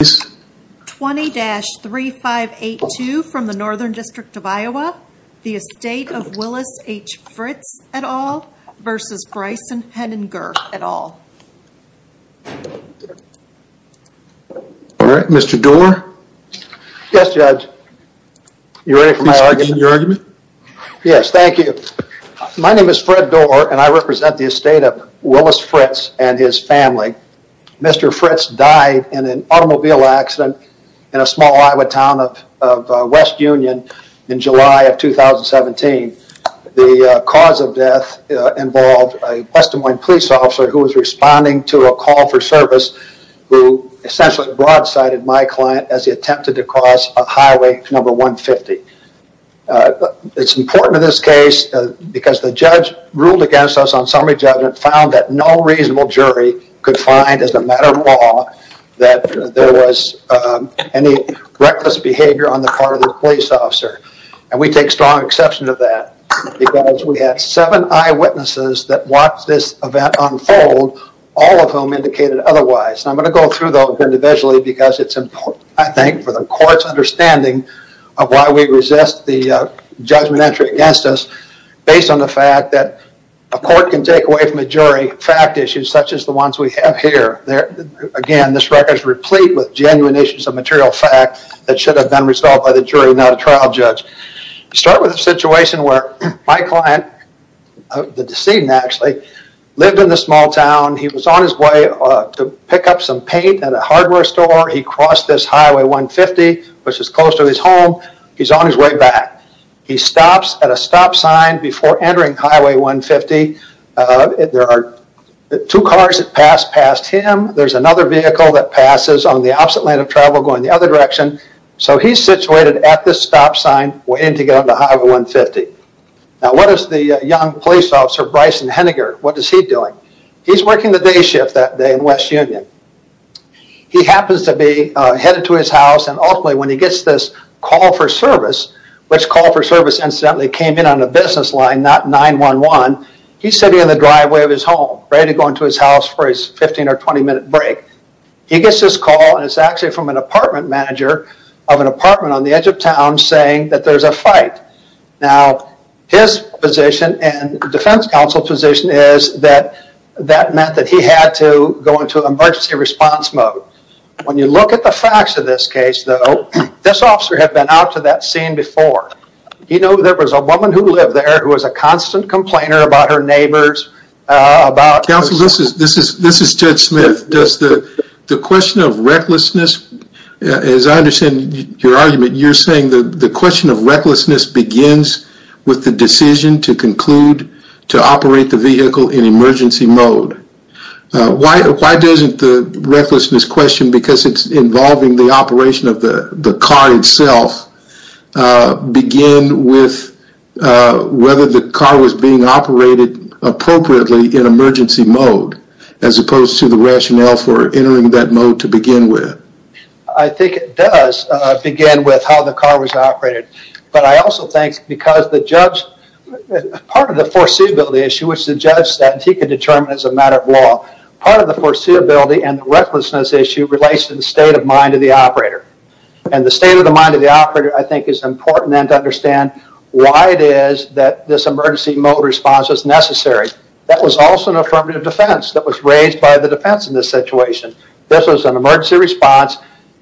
20-3582 from the Northern District of Iowa, the Estate of Willys H. Fritz et al. v. Bryson Henninger et al. Alright, Mr. Doar? Yes, Judge. You ready for my argument? Yes, thank you. My name is Fred Doar and I represent the Estate of Willys Fritz and his family. Mr. Fritz died in an automobile accident in a small Iowa town of West Union in July of 2017. The cause of death involved a West Des Moines police officer who was responding to a call for service who essentially broadsided my client as he attempted to cross Highway 150. It's important in this case because the judge ruled against us on summary judgment found that no reasonable jury could find as a matter of law that there was any reckless behavior on the part of the police officer. And we take strong exception to that because we had seven eyewitnesses that watched this event unfold, all of whom indicated otherwise. I'm going to go through those individually because it's important, I think, for the court's understanding of why we resist the judgment entry against us based on the fact that a court can take away from a jury fact issues such as the ones we have here. Again, this record is replete with genuine issues of material fact that should have been resolved by the jury, not a trial judge. We start with a situation where my client, the decedent actually, lived in this small town. He was on his way to pick up some paint at a hardware store. He crossed this Highway 150, which is close to his home. He's on his way back. He stops at a stop sign before entering Highway 150. There are two cars that pass past him. There's another vehicle that passes on the opposite lane of travel going the other direction. So he's situated at this stop sign waiting to get onto Highway 150. Now what is the young police officer, Bryson Henniger, what is he doing? He's working the day shift that day in West Union. He happens to be headed to his house and ultimately when he gets this call for service, which call for service incidentally came in on a business line, not 911, he's sitting in the driveway of his home, ready to go into his house for his 15 or 20 minute break. He gets this call and it's actually from an apartment manager of an apartment on the edge of town saying that there's a fight. Now his position and defense counsel's position is that that meant that he had to go into emergency response mode. When you look at the facts of this case though, this officer had been out to that scene before. You know there was a woman who lived there who was a constant complainer about her neighbors. Counsel, this is Judge Smith. The question of recklessness, as I understand your argument, you're saying the question of recklessness begins with the decision to conclude to operate the vehicle in emergency mode. Why doesn't the recklessness question, because it's involving the operation of the car itself, begin with whether the car was being operated appropriately in emergency mode as opposed to the rationale for entering that mode to begin with? I think it does begin with how the car was operated. But I also think because part of the foreseeability issue, which the judge said he could determine as a matter of law, part of the foreseeability and recklessness issue relates to the state of mind of the operator. And the state of the mind of the operator I think is important to understand why it is that this emergency mode response was necessary. That was also an affirmative defense that was raised by the defense in this situation. This was an emergency response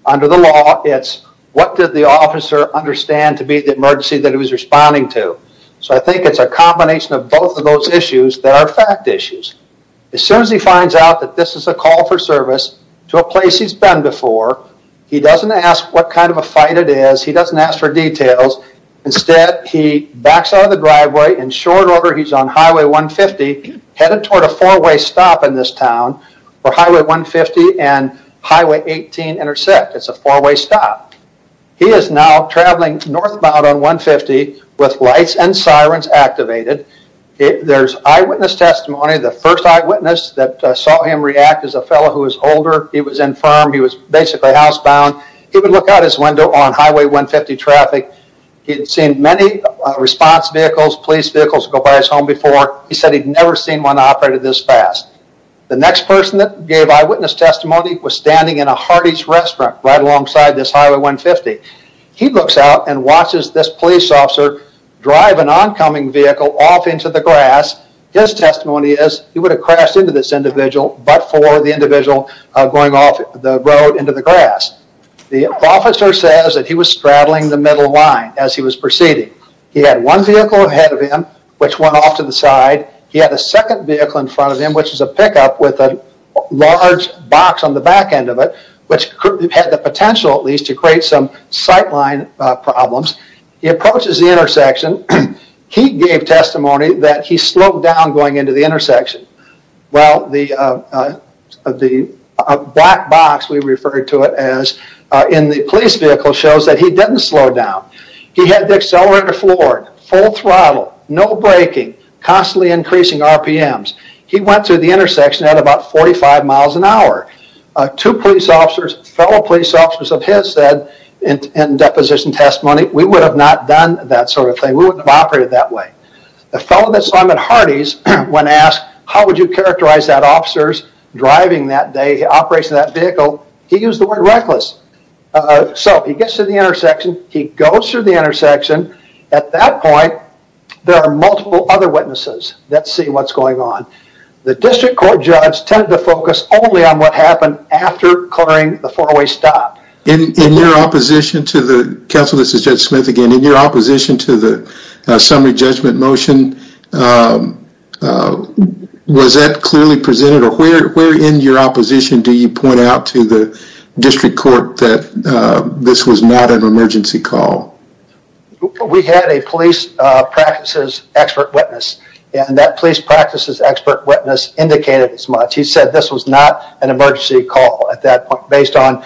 under the law. It's what did the officer understand to be the emergency that he was responding to. So I think it's a combination of both of those issues that are fact issues. As soon as he finds out that this is a call for service to a place he's been before, he doesn't ask what kind of a fight it is. He doesn't ask for details. Instead, he backs out of the driveway. In short order, he's on Highway 150 headed toward a four-way stop in this town where Highway 150 and Highway 18 intersect. It's a four-way stop. He is now traveling northbound on 150 with lights and sirens activated. There's eyewitness testimony. The first eyewitness that saw him react is a fellow who is older. He was infirmed. He was basically housebound. He would look out his window on Highway 150 traffic. He'd seen many response vehicles, police vehicles go by his home before. He said he'd never seen one operated this fast. The next person that gave eyewitness testimony was standing in a hearty restaurant right alongside this Highway 150. He looks out and watches this police officer drive an oncoming vehicle off into the grass. His testimony is he would have crashed into this individual but for the individual going off the road into the grass. The officer says that he was straddling the middle line as he was proceeding. He had one vehicle ahead of him which went off to the side. He had a second vehicle in front of him which was a pickup with a large box on the back end of it which had the potential at least to create some sightline problems. He approaches the intersection. He gave testimony that he slowed down going into the intersection. The black box we refer to it as in the police vehicle shows that he didn't slow down. He had the accelerator floored, full throttle, no braking, constantly increasing RPMs. He went through the intersection at about 45 miles an hour. Two police officers, fellow police officers of his said in deposition testimony we would have not done that sort of thing. We wouldn't have operated that way. The fellow that saw him at Hardee's when asked how would you characterize that officer's driving that day, operation of that vehicle, he used the word reckless. So he gets to the intersection. He goes through the intersection. At that point there are multiple other witnesses that see what's going on. The district court judge tended to focus only on what happened after clearing the four-way stop. In your opposition to the, counsel this is Judge Smith again, in your opposition to the summary judgment motion, was that clearly presented or where in your opposition do you point out to the district court that this was not an emergency call? We had a police practices expert witness. That police practices expert witness indicated as much. He said this was not an emergency call at that point based on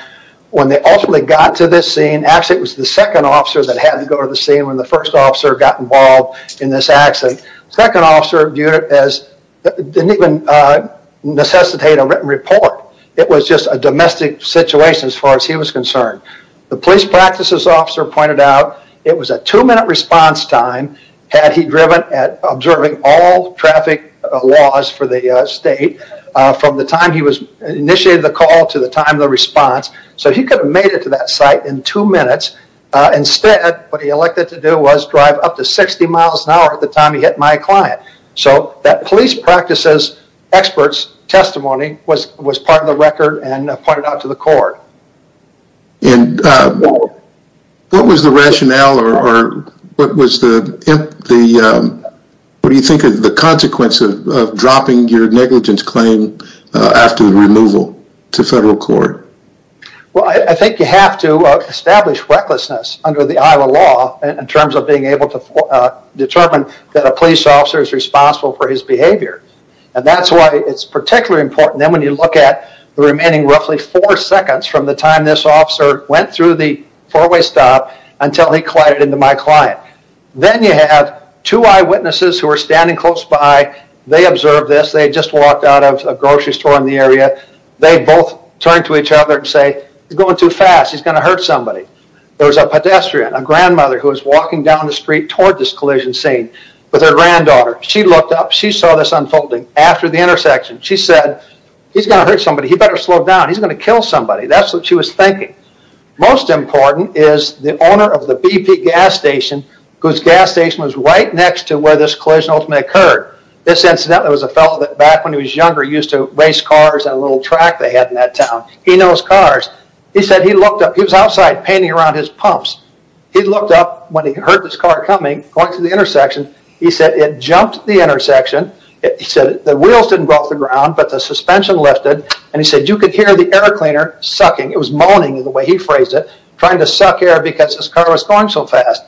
when they ultimately got to this scene, actually it was the second officer that had to go to the scene when the first officer got involved in this accident. Second officer viewed it as, didn't even necessitate a written report. It was just a domestic situation as far as he was concerned. The police practices officer pointed out it was a two-minute response time had he driven at observing all traffic laws for the state from the time he initiated the call to the time of the response. He could have made it to that site in two minutes. Instead, what he elected to do was drive up to 60 miles an hour at the time he hit my client. That police practices experts testimony was part of the record and pointed out to the court. What was the rationale or what was the consequence of dropping your negligence claim after the removal to federal court? I think you have to establish recklessness under the Iowa law in terms of being able to determine that a police officer is responsible for his behavior. That's why it's particularly important when you look at the remaining roughly four seconds from the time this officer went through the four-way stop until he collided into my client. Then you have two eyewitnesses who are standing close by. They observed this. They had just walked out of a grocery store in the area. They both turned to each other and said, he's going too fast. He's going to hurt somebody. There was a pedestrian, a grandmother, who was walking down the street toward this collision scene with her granddaughter. She looked up. She saw this unfolding after the intersection. She said, he's going to hurt somebody. He better slow down. He's going to kill somebody. That's what she was thinking. Most important is the owner of the BP gas station, whose gas station was right next to where this collision ultimately occurred. This incident was a fellow that back when he was younger used to race cars on a little track they had in that town. He knows cars. He was outside painting around his pumps. He looked up when he heard this car coming, going through the intersection. He said, it jumped the intersection. He said, the wheels didn't go off the ground, but the suspension lifted. He said, you could hear the air cleaner sucking. It was moaning the way he phrased it, trying to suck air because this car was going so fast.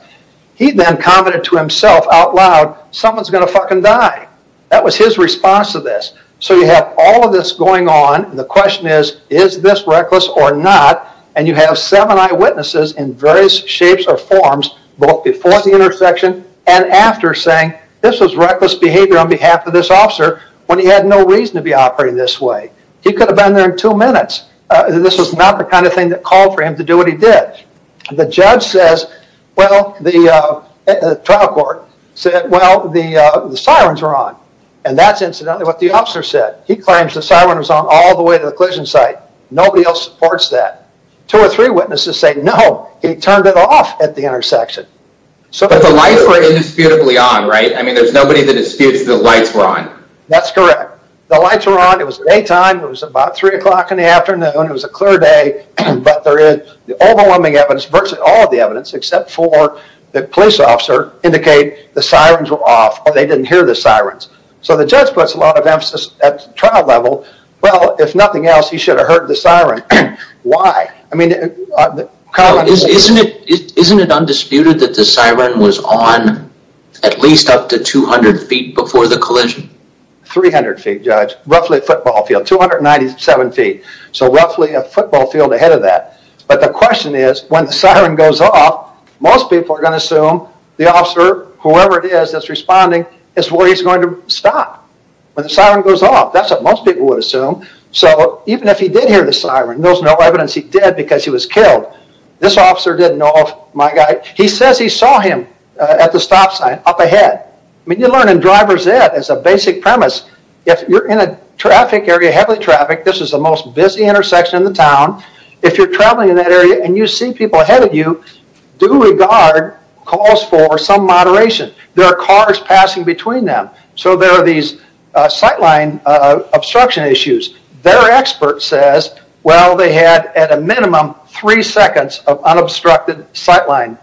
He then commented to himself out loud, someone's going to fucking die. That was his response to this. You have all of this going on. The question is, is this reckless or not? You have seven eyewitnesses in various shapes or forms both before the intersection and after saying, this was reckless behavior on behalf of this officer when he had no reason to be operating this way. He could have been there in two minutes. This was not the kind of thing that called for him to do what he did. The judge says, well, the trial court said, well, the sirens were on. And that's incidentally what the officer said. He claims the siren was on all the way to the collision site. Nobody else supports that. Two or three witnesses say, no, he turned it off at the intersection. But the lights were indisputably on, right? I mean, there's nobody that disputes the lights were on. That's correct. The lights were on. It was afternoon, it was a clear day. But there is the overwhelming evidence, virtually all of the evidence, except for the police officer indicate the sirens were off. They didn't hear the sirens. So the judge puts a lot of emphasis at trial level. Well, if nothing else, he should have heard the siren. Why? Isn't it undisputed that the siren was on at least up to 200 feet before the collision? 300 feet, Judge. Roughly a football field. Roughly a football field ahead of that. But the question is, when the siren goes off, most people are going to assume the officer, whoever it is that's responding, is where he's going to stop when the siren goes off. That's what most people would assume. So even if he did hear the siren, there's no evidence he did because he was killed. This officer didn't know if my guy, he says he saw him at the stop sign up ahead. I mean, you're learning driver's ed as a basic premise. If you're in a traffic area, heavily trafficked, this is the most busy intersection in the town. If you're traveling in that area and you see people ahead of you, do regard calls for some moderation. There are cars passing between them. So there are these sightline obstruction issues. Their expert says, well, they had at a minimum three seconds of unobstructed sightline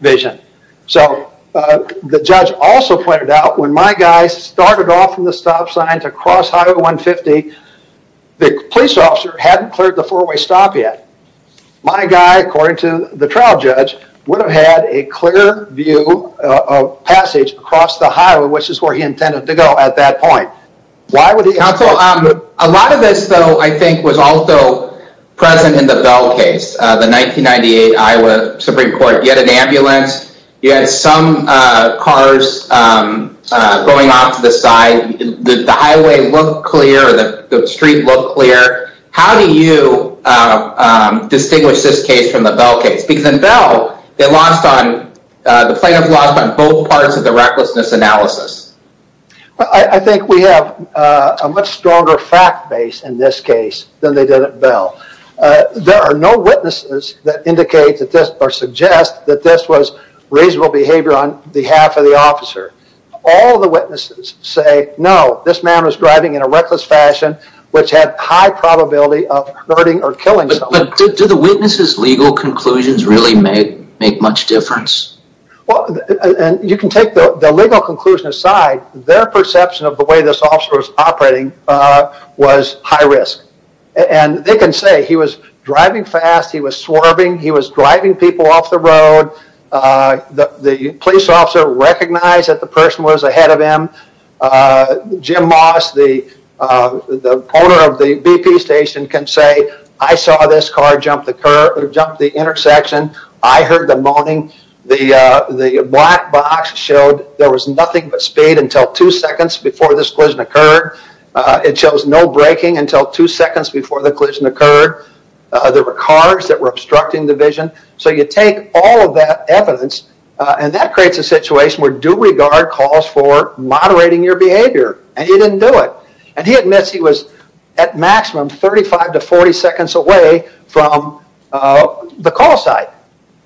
vision. So the judge also pointed out when my guy started off from the stop sign to cross Highway 150, the police officer hadn't cleared the four-way stop yet. My guy, according to the trial judge, would have had a clear view of passage across the highway, which is where he intended to go at that point. A lot of this, though, I think was also present in the Bell case, the 1998 Iowa Supreme Court. You had an ambulance. You had some cars going off to the side. The highway looked clear. The street looked clear. How do you distinguish this case from the Bell case? Because in Bell, the plaintiff lost on both parts of the recklessness analysis. I think we have a much stronger fact base in this case than they did at Bell. There are no witnesses that indicate or suggest that this was reasonable behavior on behalf of the officer. All the witnesses say, no, this man was driving in a reckless fashion which had high probability of hurting or killing someone. Do the witnesses' legal conclusions really make much difference? You can take the legal conclusion aside. Their perception of the way this officer was operating was high risk. They can say he was driving fast. He was swerving. He was driving people off the road. The police officer recognized that the person was ahead of him. Jim Moss, the owner of the BP station, can say, I saw this car jump the intersection. I heard the moaning. The black box showed there was nothing but speed until two seconds before this collision occurred. It shows no braking until two seconds before the collision occurred. There were cars that were obstructing the vision. So you take all of that evidence and that creates a situation where due regard calls for moderating your behavior. And he didn't do it. And he admits he was at maximum 35 to 40 seconds away from the call site.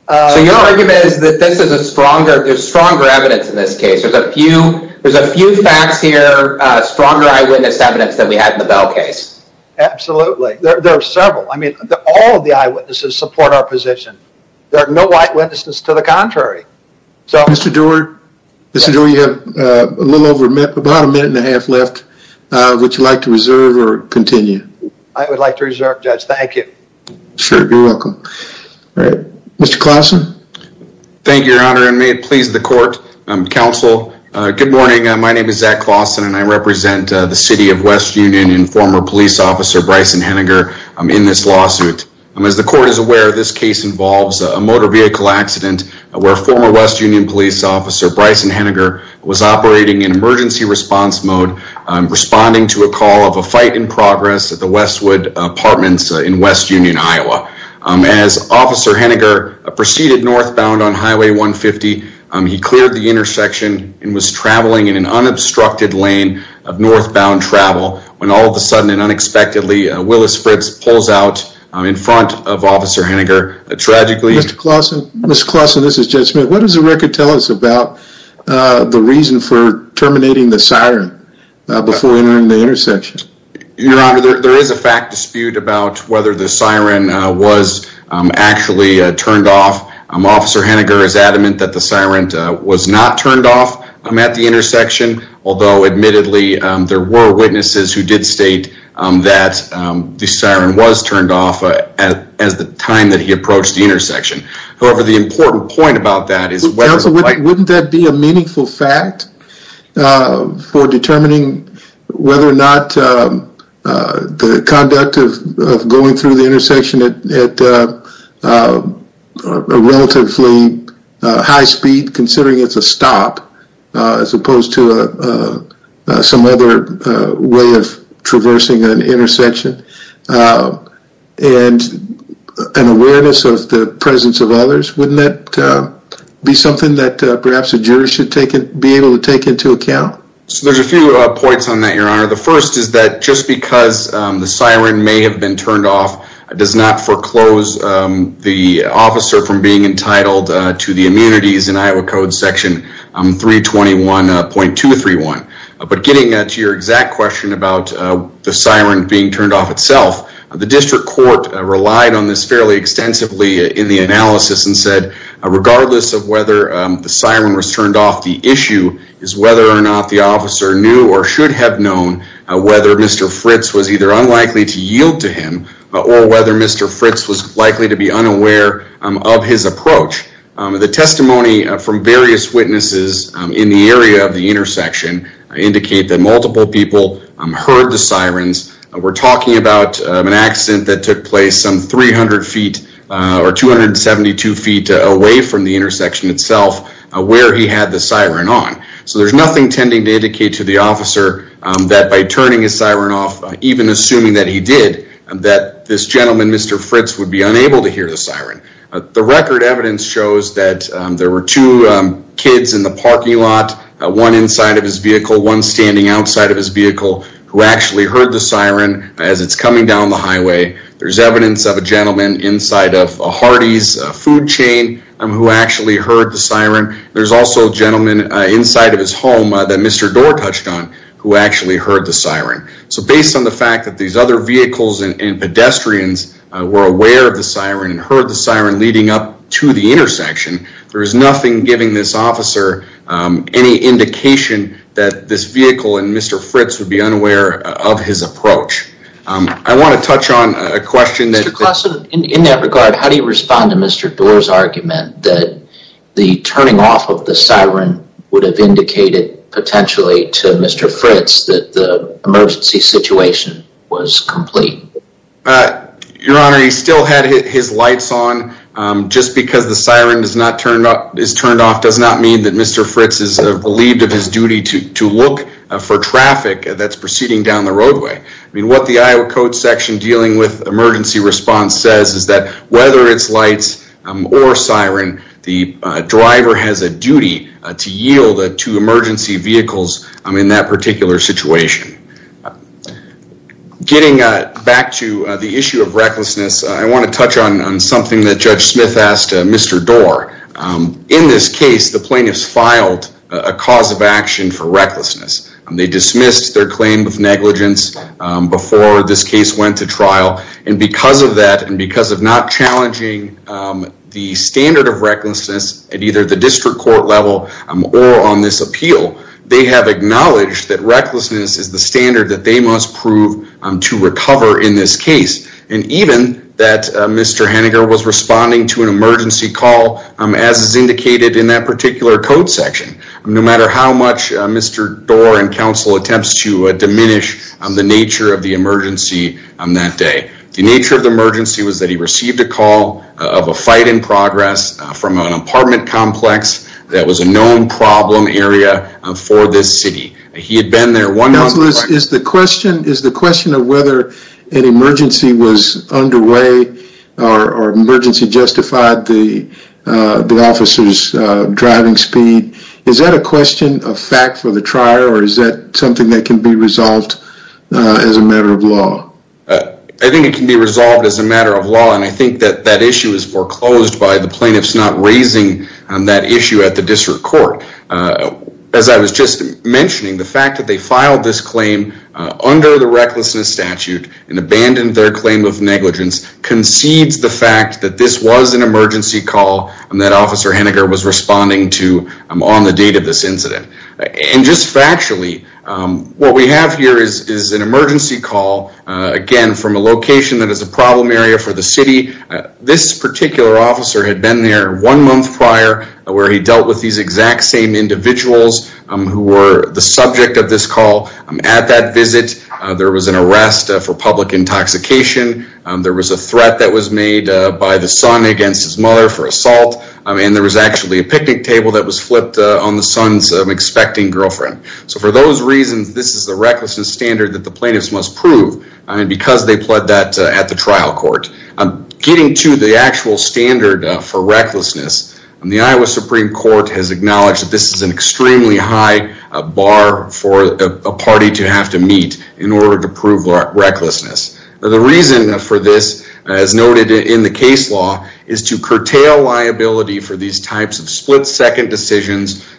So your argument is that this is a stronger, there's stronger evidence in this case. There's a few facts here, stronger eyewitness evidence than we had in the Bell case. Absolutely. There are several. I mean, all of the eyewitnesses support our position. There are no eyewitnesses to the contrary. Mr. Doerr, you have about a minute and a half left. Would you like to reserve or continue? I would like to reserve, Judge. Thank you. Sure. You're welcome. Mr. Claussen. Thank you, Your Honor, and may it please the court, counsel, good morning. My name is Zach Claussen, and I represent the City of West Union and former police officer Bryson Henninger in this lawsuit. As the court is aware, this case involves a motor vehicle accident where former West Union police officer Bryson Henninger was operating in emergency response mode, responding to a call of a fight in progress at the Westwood Apartments in West Union, Iowa. As Officer Henninger proceeded northbound on Highway 150, he cleared the intersection and was traveling in an unobstructed lane of northbound travel when all of a sudden and unexpectedly he was stopped in front of Officer Henninger tragically. Mr. Claussen, this is Judge Smith. What does the record tell us about the reason for terminating the siren before entering the intersection? Your Honor, there is a fact dispute about whether the siren was actually turned off. Officer Henninger is adamant that the siren was not turned off at the intersection, although admittedly there were witnesses who did state that the siren was turned off at the time that he approached the intersection. However, the important point about that is whether... Counsel, wouldn't that be a meaningful fact for determining whether or not the conduct of going through the intersection at a relatively high speed, considering it's a stop as opposed to some other way of traversing an intersection and an awareness of the presence of others? Wouldn't that be something that perhaps a juror should be able to take into account? There's a few points on that, Your Honor. The first is that just because the siren may have been turned off does not foreclose the officer from being entitled to the immunities in Iowa Code Section 321.231. But getting to your exact question about the siren being turned off itself, the district court relied on this fairly extensively in the analysis and said regardless of whether the siren was turned off, the issue is whether or not the officer knew or should have known whether Mr. Fritz was either unlikely to yield to him or whether Mr. Fritz was likely to be unaware of his approach. The testimony from various witnesses in the area of the intersection indicate that multiple people heard the sirens, and that was about an accident that took place some 300 feet or 272 feet away from the intersection itself where he had the siren on. So there's nothing tending to indicate to the officer that by turning his siren off, even assuming that he did, that this gentleman, Mr. Fritz, would be unable to hear the siren. The record evidence shows that there were two kids in the parking lot, one inside of his vehicle, coming down the highway. There's evidence of a gentleman inside of a Hardee's food chain who actually heard the siren. There's also a gentleman inside of his home that Mr. Doar touched on who actually heard the siren. So based on the fact that these other vehicles and pedestrians were aware of the siren and heard the siren leading up to the intersection, there is nothing giving this officer any indication that this vehicle would be able to hear the siren. I want to touch on a question that... Mr. Klassen, in that regard, how do you respond to Mr. Doar's argument that the turning off of the siren would have indicated potentially to Mr. Fritz that the emergency situation was complete? Your Honor, he still had his lights on. Just because the siren is turned off does not mean that Mr. Fritz is relieved of his duty to look for traffic at the intersection. What the section dealing with emergency response says is that whether it's lights or siren, the driver has a duty to yield to emergency vehicles in that particular situation. Getting back to the issue of recklessness, I want to touch on something that Judge Smith asked Mr. Doar. In this case, the plaintiffs filed a cause of action and went to trial. Because of that and because of not challenging the standard of recklessness at either the district court level or on this appeal, they have acknowledged that recklessness is the standard that they must prove to recover in this case. Even that Mr. Henninger was responding to an emergency call as is indicated in that particular code section. No matter how much Mr. Doar was involved in that day, the nature of the emergency was that he received a call of a fight in progress from an apartment complex that was a known problem area for this city. He had been there one month. Counselor, is the question of whether an emergency was underway or emergency justified the officer's driving speed, is that a question, a fact for the trier I think it can be resolved as a matter of law and I think that that issue is foreclosed by the plaintiffs not raising that issue at the district court. As I was just mentioning, the fact that they filed this claim under the recklessness statute and abandoned their claim of negligence concedes the fact that this was an emergency call that officer Henninger was responding to on the date of this incident. From a location that is a problem area for the city, this particular officer had been there one month prior where he dealt with these exact same individuals who were the subject of this call. At that visit, there was an arrest for public intoxication, there was a threat that was made by the son against his mother for assault, and there was actually a picnic table that was flipped on the son's expecting girlfriend. For those reasons, this is the recklessness standard that the plaintiffs must prove because they pled that at the trial court. Getting to the actual standard for recklessness, the Iowa Supreme Court has acknowledged that this is an extremely high bar for a party to have to meet in order to prove recklessness. The reason for this, as noted in the case law, is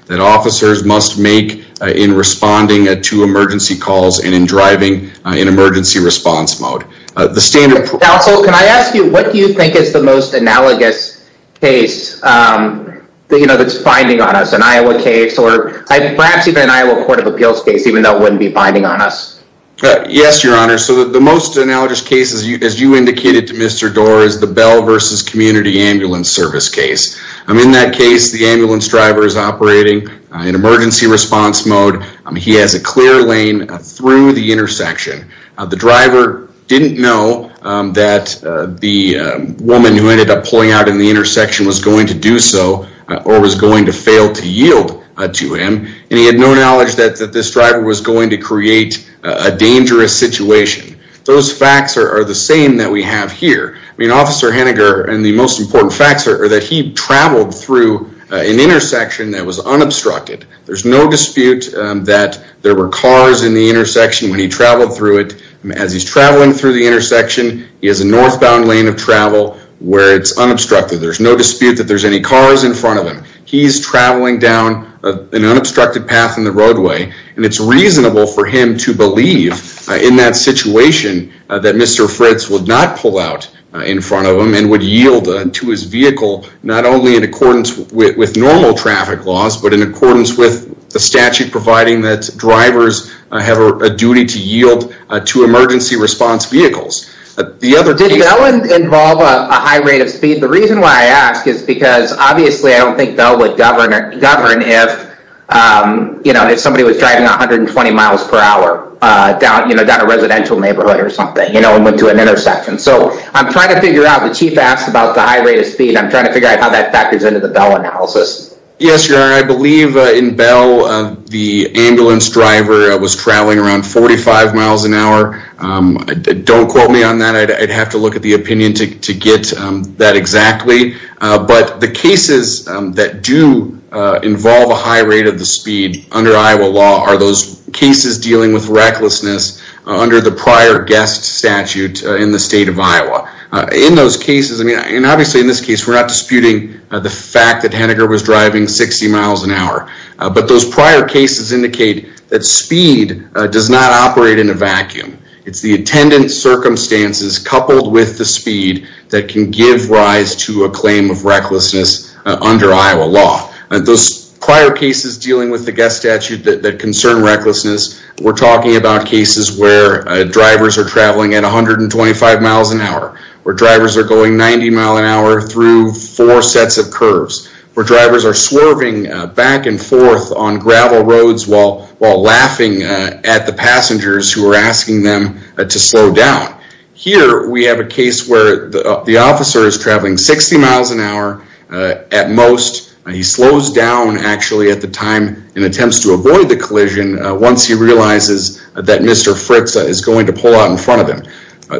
that officers must make in responding to emergency calls and in driving in emergency response mode. Counsel, can I ask you, what do you think is the most analogous case that is finding on us? An Iowa case, or perhaps even an Iowa Court of Appeals case even though it wouldn't be finding on us? Yes, Your Honor. The most analogous case, as you indicated to Mr. Doar, is the Bell v. Community Ambulance Service case. In that case, the driver is operating in emergency response mode. He has a clear lane through the intersection. The driver didn't know that the woman who ended up pulling out in the intersection was going to do so or was going to fail to yield to him. And he had no knowledge that this driver was going to create a dangerous situation. Those facts are the same that we have here. I mean, Officer Henniger is unobstructed. There's no dispute that there were cars in the intersection when he traveled through it. As he's traveling through the intersection, he has a northbound lane of travel where it's unobstructed. There's no dispute that there's any cars in front of him. He's traveling down an unobstructed path in the roadway, and it's reasonable for him to believe in that situation that Mr. Fritz would not pull out in front of him in accordance with the statute providing that drivers have a duty to yield to emergency response vehicles. Did Bell involve a high rate of speed? The reason why I ask is because obviously I don't think Bell would govern if somebody was driving 120 miles per hour down a residential neighborhood or something and went to an intersection. So I'm trying to figure out the chief asked about the high rate of speed. I'm trying to figure out how that factors into the Bell analysis. Yes, your honor. I believe in Bell, the ambulance driver was traveling around 45 miles an hour. Don't quote me on that. I'd have to look at the opinion to get that exactly. But the cases that do involve a high rate of the speed under Iowa law are those cases dealing with recklessness under the prior guest statute in the state of Iowa. I'm not disputing the fact that Henniger was driving 60 miles an hour. But those prior cases indicate that speed does not operate in a vacuum. It's the attendant circumstances coupled with the speed that can give rise to a claim of recklessness under Iowa law. Those prior cases dealing with the guest statute that concern recklessness, we're talking about cases where drivers are traveling at 125 miles an hour through four sets of curves, where drivers are swerving back and forth on gravel roads while laughing at the passengers who are asking them to slow down. Here, we have a case where the officer is traveling 60 miles an hour at most. He slows down, actually, at the time in attempts to avoid the collision once he realizes that Mr. Fritz is going to pull out in front of him.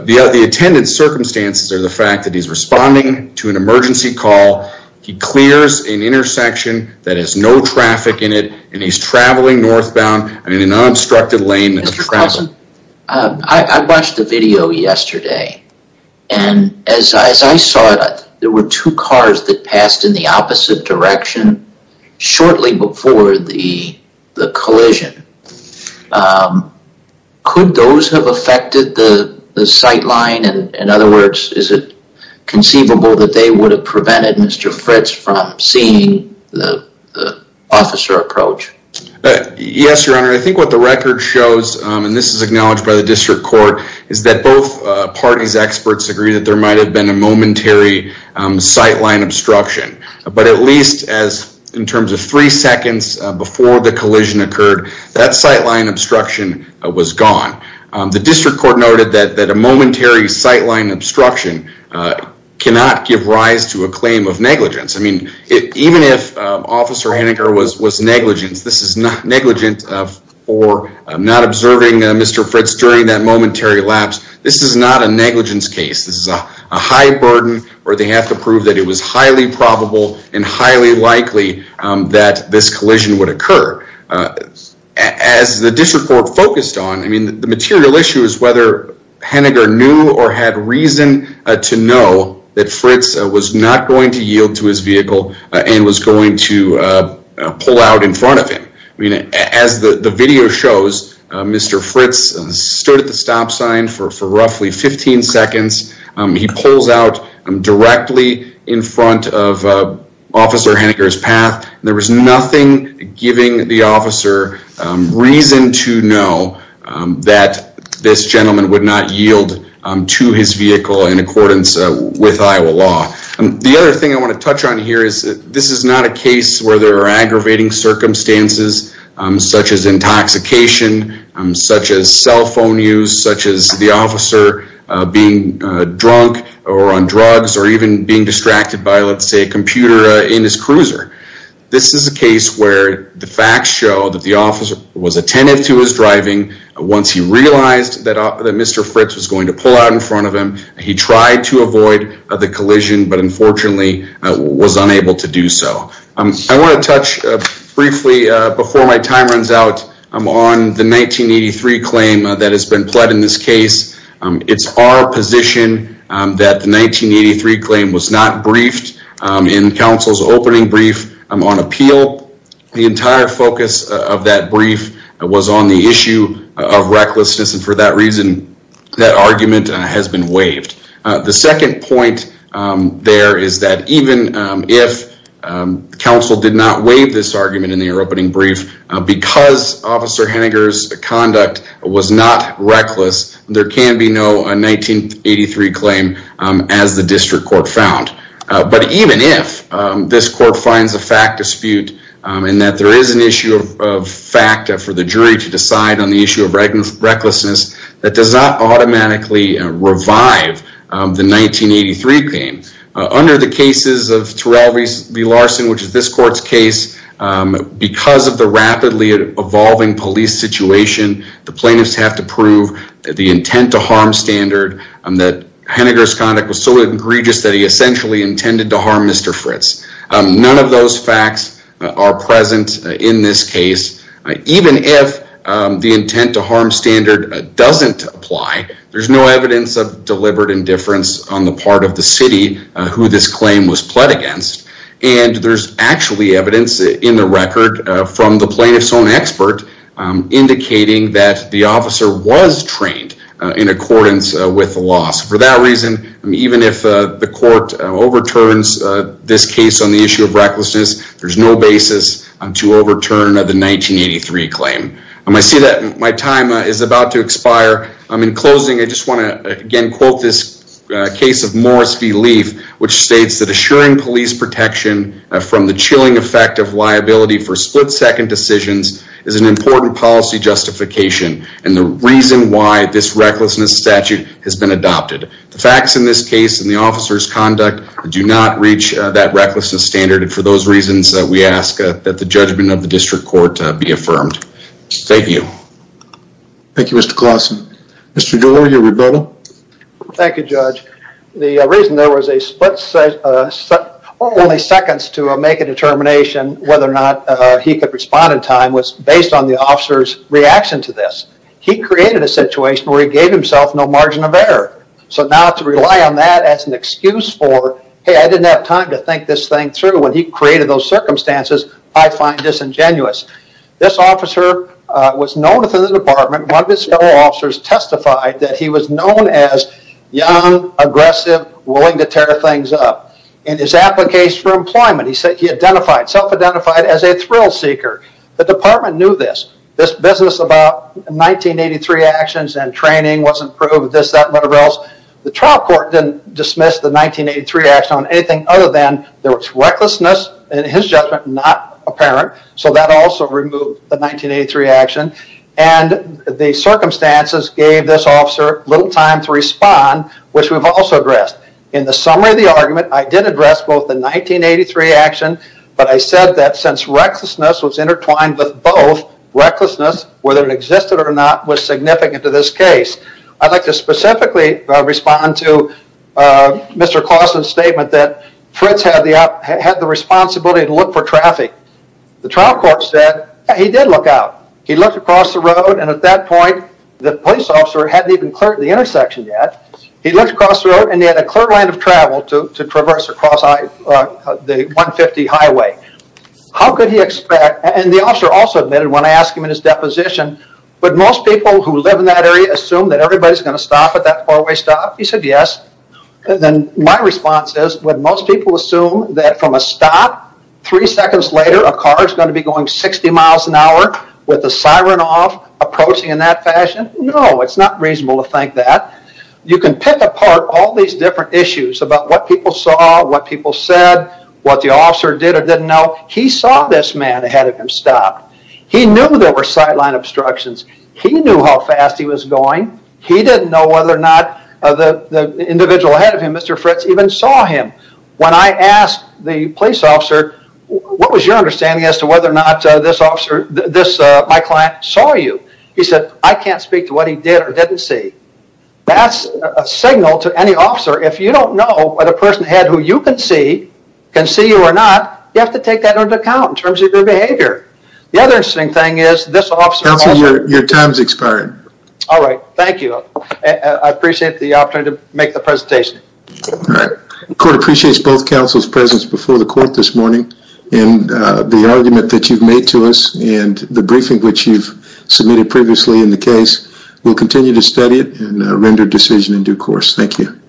The attendant circumstances are the fact that he's responding to an emergency call. He clears an intersection that has no traffic in it, and he's traveling northbound in an unobstructed lane. Mr. Carlson, I watched the video yesterday, and as I saw it, there were two cars that passed in the opposite direction shortly before the collision. Could those have affected the sight line? Is it conceivable that they would have prevented Mr. Fritz from seeing the officer approach? Yes, Your Honor. I think what the record shows, and this is acknowledged by the district court, is that both parties' experts agree that there might have been a momentary sight line obstruction. But at least, in terms of three seconds before the collision occurred, that sight line obstruction was gone. That sight line obstruction cannot give rise to a claim of negligence. Even if Officer Henniger was negligent, this is not negligent for not observing Mr. Fritz during that momentary lapse. This is not a negligence case. This is a high burden where they have to prove that it was highly probable and highly likely that this collision would occur. As the district court focused on, the material issue to know that Fritz was not going to yield to his vehicle and was going to pull out in front of him. As the video shows, Mr. Fritz stood at the stop sign for roughly 15 seconds. He pulls out directly in front of Officer Henniger's path. There was nothing giving the officer reason to know that this gentleman would not yield to his vehicle for negligence with Iowa law. The other thing I want to touch on here is that this is not a case where there are aggravating circumstances such as intoxication, such as cell phone use, such as the officer being drunk or on drugs or even being distracted by a computer in his cruiser. This is a case where the facts show that the officer was attentive to his driving once he realized that Mr. Fritz was going to pull out in front of him. He tried to avoid the collision but unfortunately was unable to do so. I want to touch briefly before my time runs out on the 1983 claim that has been pled in this case. It's our position that the 1983 claim was not briefed in counsel's opening brief on appeal. The entire focus of that brief was on the issue of recklessness and for that reason the second point there is that even if counsel did not waive this argument in their opening brief because Officer Henniger's conduct was not reckless there can be no 1983 claim as the district court found. But even if this court finds a fact dispute and that there is an issue of fact for the jury to decide on the issue of recklessness in the 1983 claim under the cases of Terrell v. Larson which is this court's case because of the rapidly evolving police situation the plaintiffs have to prove the intent to harm standard that Henniger's conduct was so egregious that he essentially intended to harm Mr. Fritz. None of those facts are present in this case. Even if the intent to harm standard doesn't apply to the part of the city who this claim was pled against and there's actually evidence in the record from the plaintiff's own expert indicating that the officer was trained in accordance with the laws. For that reason even if the court overturns this case on the issue of recklessness there's no basis to overturn the 1983 claim. I see that my time is about to expire. In closing I just want to again quote this case of Morris v. Leaf which states that assuring police protection from the chilling effect of liability for split-second decisions is an important policy justification and the reason why this recklessness statute has been adopted. The facts in this case and the officer's conduct do not reach that conclusion. Thank you Mr. Klausen. Mr. Dewey, your rebuttal. Thank you Judge. The reason there was a split only seconds to make a determination whether or not he could respond in time was based on the officer's reaction to this. He created a situation where he gave himself no margin of error. So now to rely on that as an excuse for hey I didn't have time to think this thing through when he created those circumstances I find disingenuous. This officer was known within the department one of his fellow officers testified that he was known as young, aggressive, willing to tear things up. In his application for employment he said he identified self-identified as a thrill seeker. The department knew this. This business about 1983 actions and training wasn't proved this that whatever else. The trial court didn't dismiss the 1983 action on anything other than there was recklessness in his judgment not apparent so that also removed the 1983 action and the circumstances gave this officer little time to respond which we've also addressed. In the summary of the argument I did address both the 1983 action but I said that since recklessness was intertwined with both recklessness whether it existed or not was significant to this case. I'd like to specifically respond to Mr. Clausen's statement that Fritz had the responsibility to look for traffic. The trial court said he did look out. He looked across the road and at that point the police officer hadn't even cleared the intersection yet. He looked across the road and he had a clear line of travel to traverse across the 150 highway. How could he expect and the officer also admitted when I asked him in his deposition would most people who live in that area assume that everybody is going to stop at that four-way stop? He said yes. Then my response is would most people assume that from a stop three seconds later a car is going to be going 60 miles an hour with the siren off approaching in that fashion? No, it's not reasonable to think that. You can pick apart all these different issues about what people saw what people said what the officer did or didn't know. He saw this man ahead of him stop. He knew there were sideline obstructions. He knew how fast he was going. He didn't know whether or not the individual ahead of him Mr. Fritz even saw him. When I asked the police officer what was your understanding as to whether or not this officer this my client saw you? He said I can't speak to what he did or didn't see. That's a signal to any officer if you don't know what a person had who you can see can see you or not you have to take that into account in terms of their behavior. The other interesting thing is this officer Counselor, your time has expired. Alright, thank you. I appreciate the opportunity to make the presentation. Alright. The court appreciates both counsel's presence before the court this morning and the argument that you've made to us and the briefing which you've submitted previously in the case. We'll continue to study it and render decision in due course. Thank you.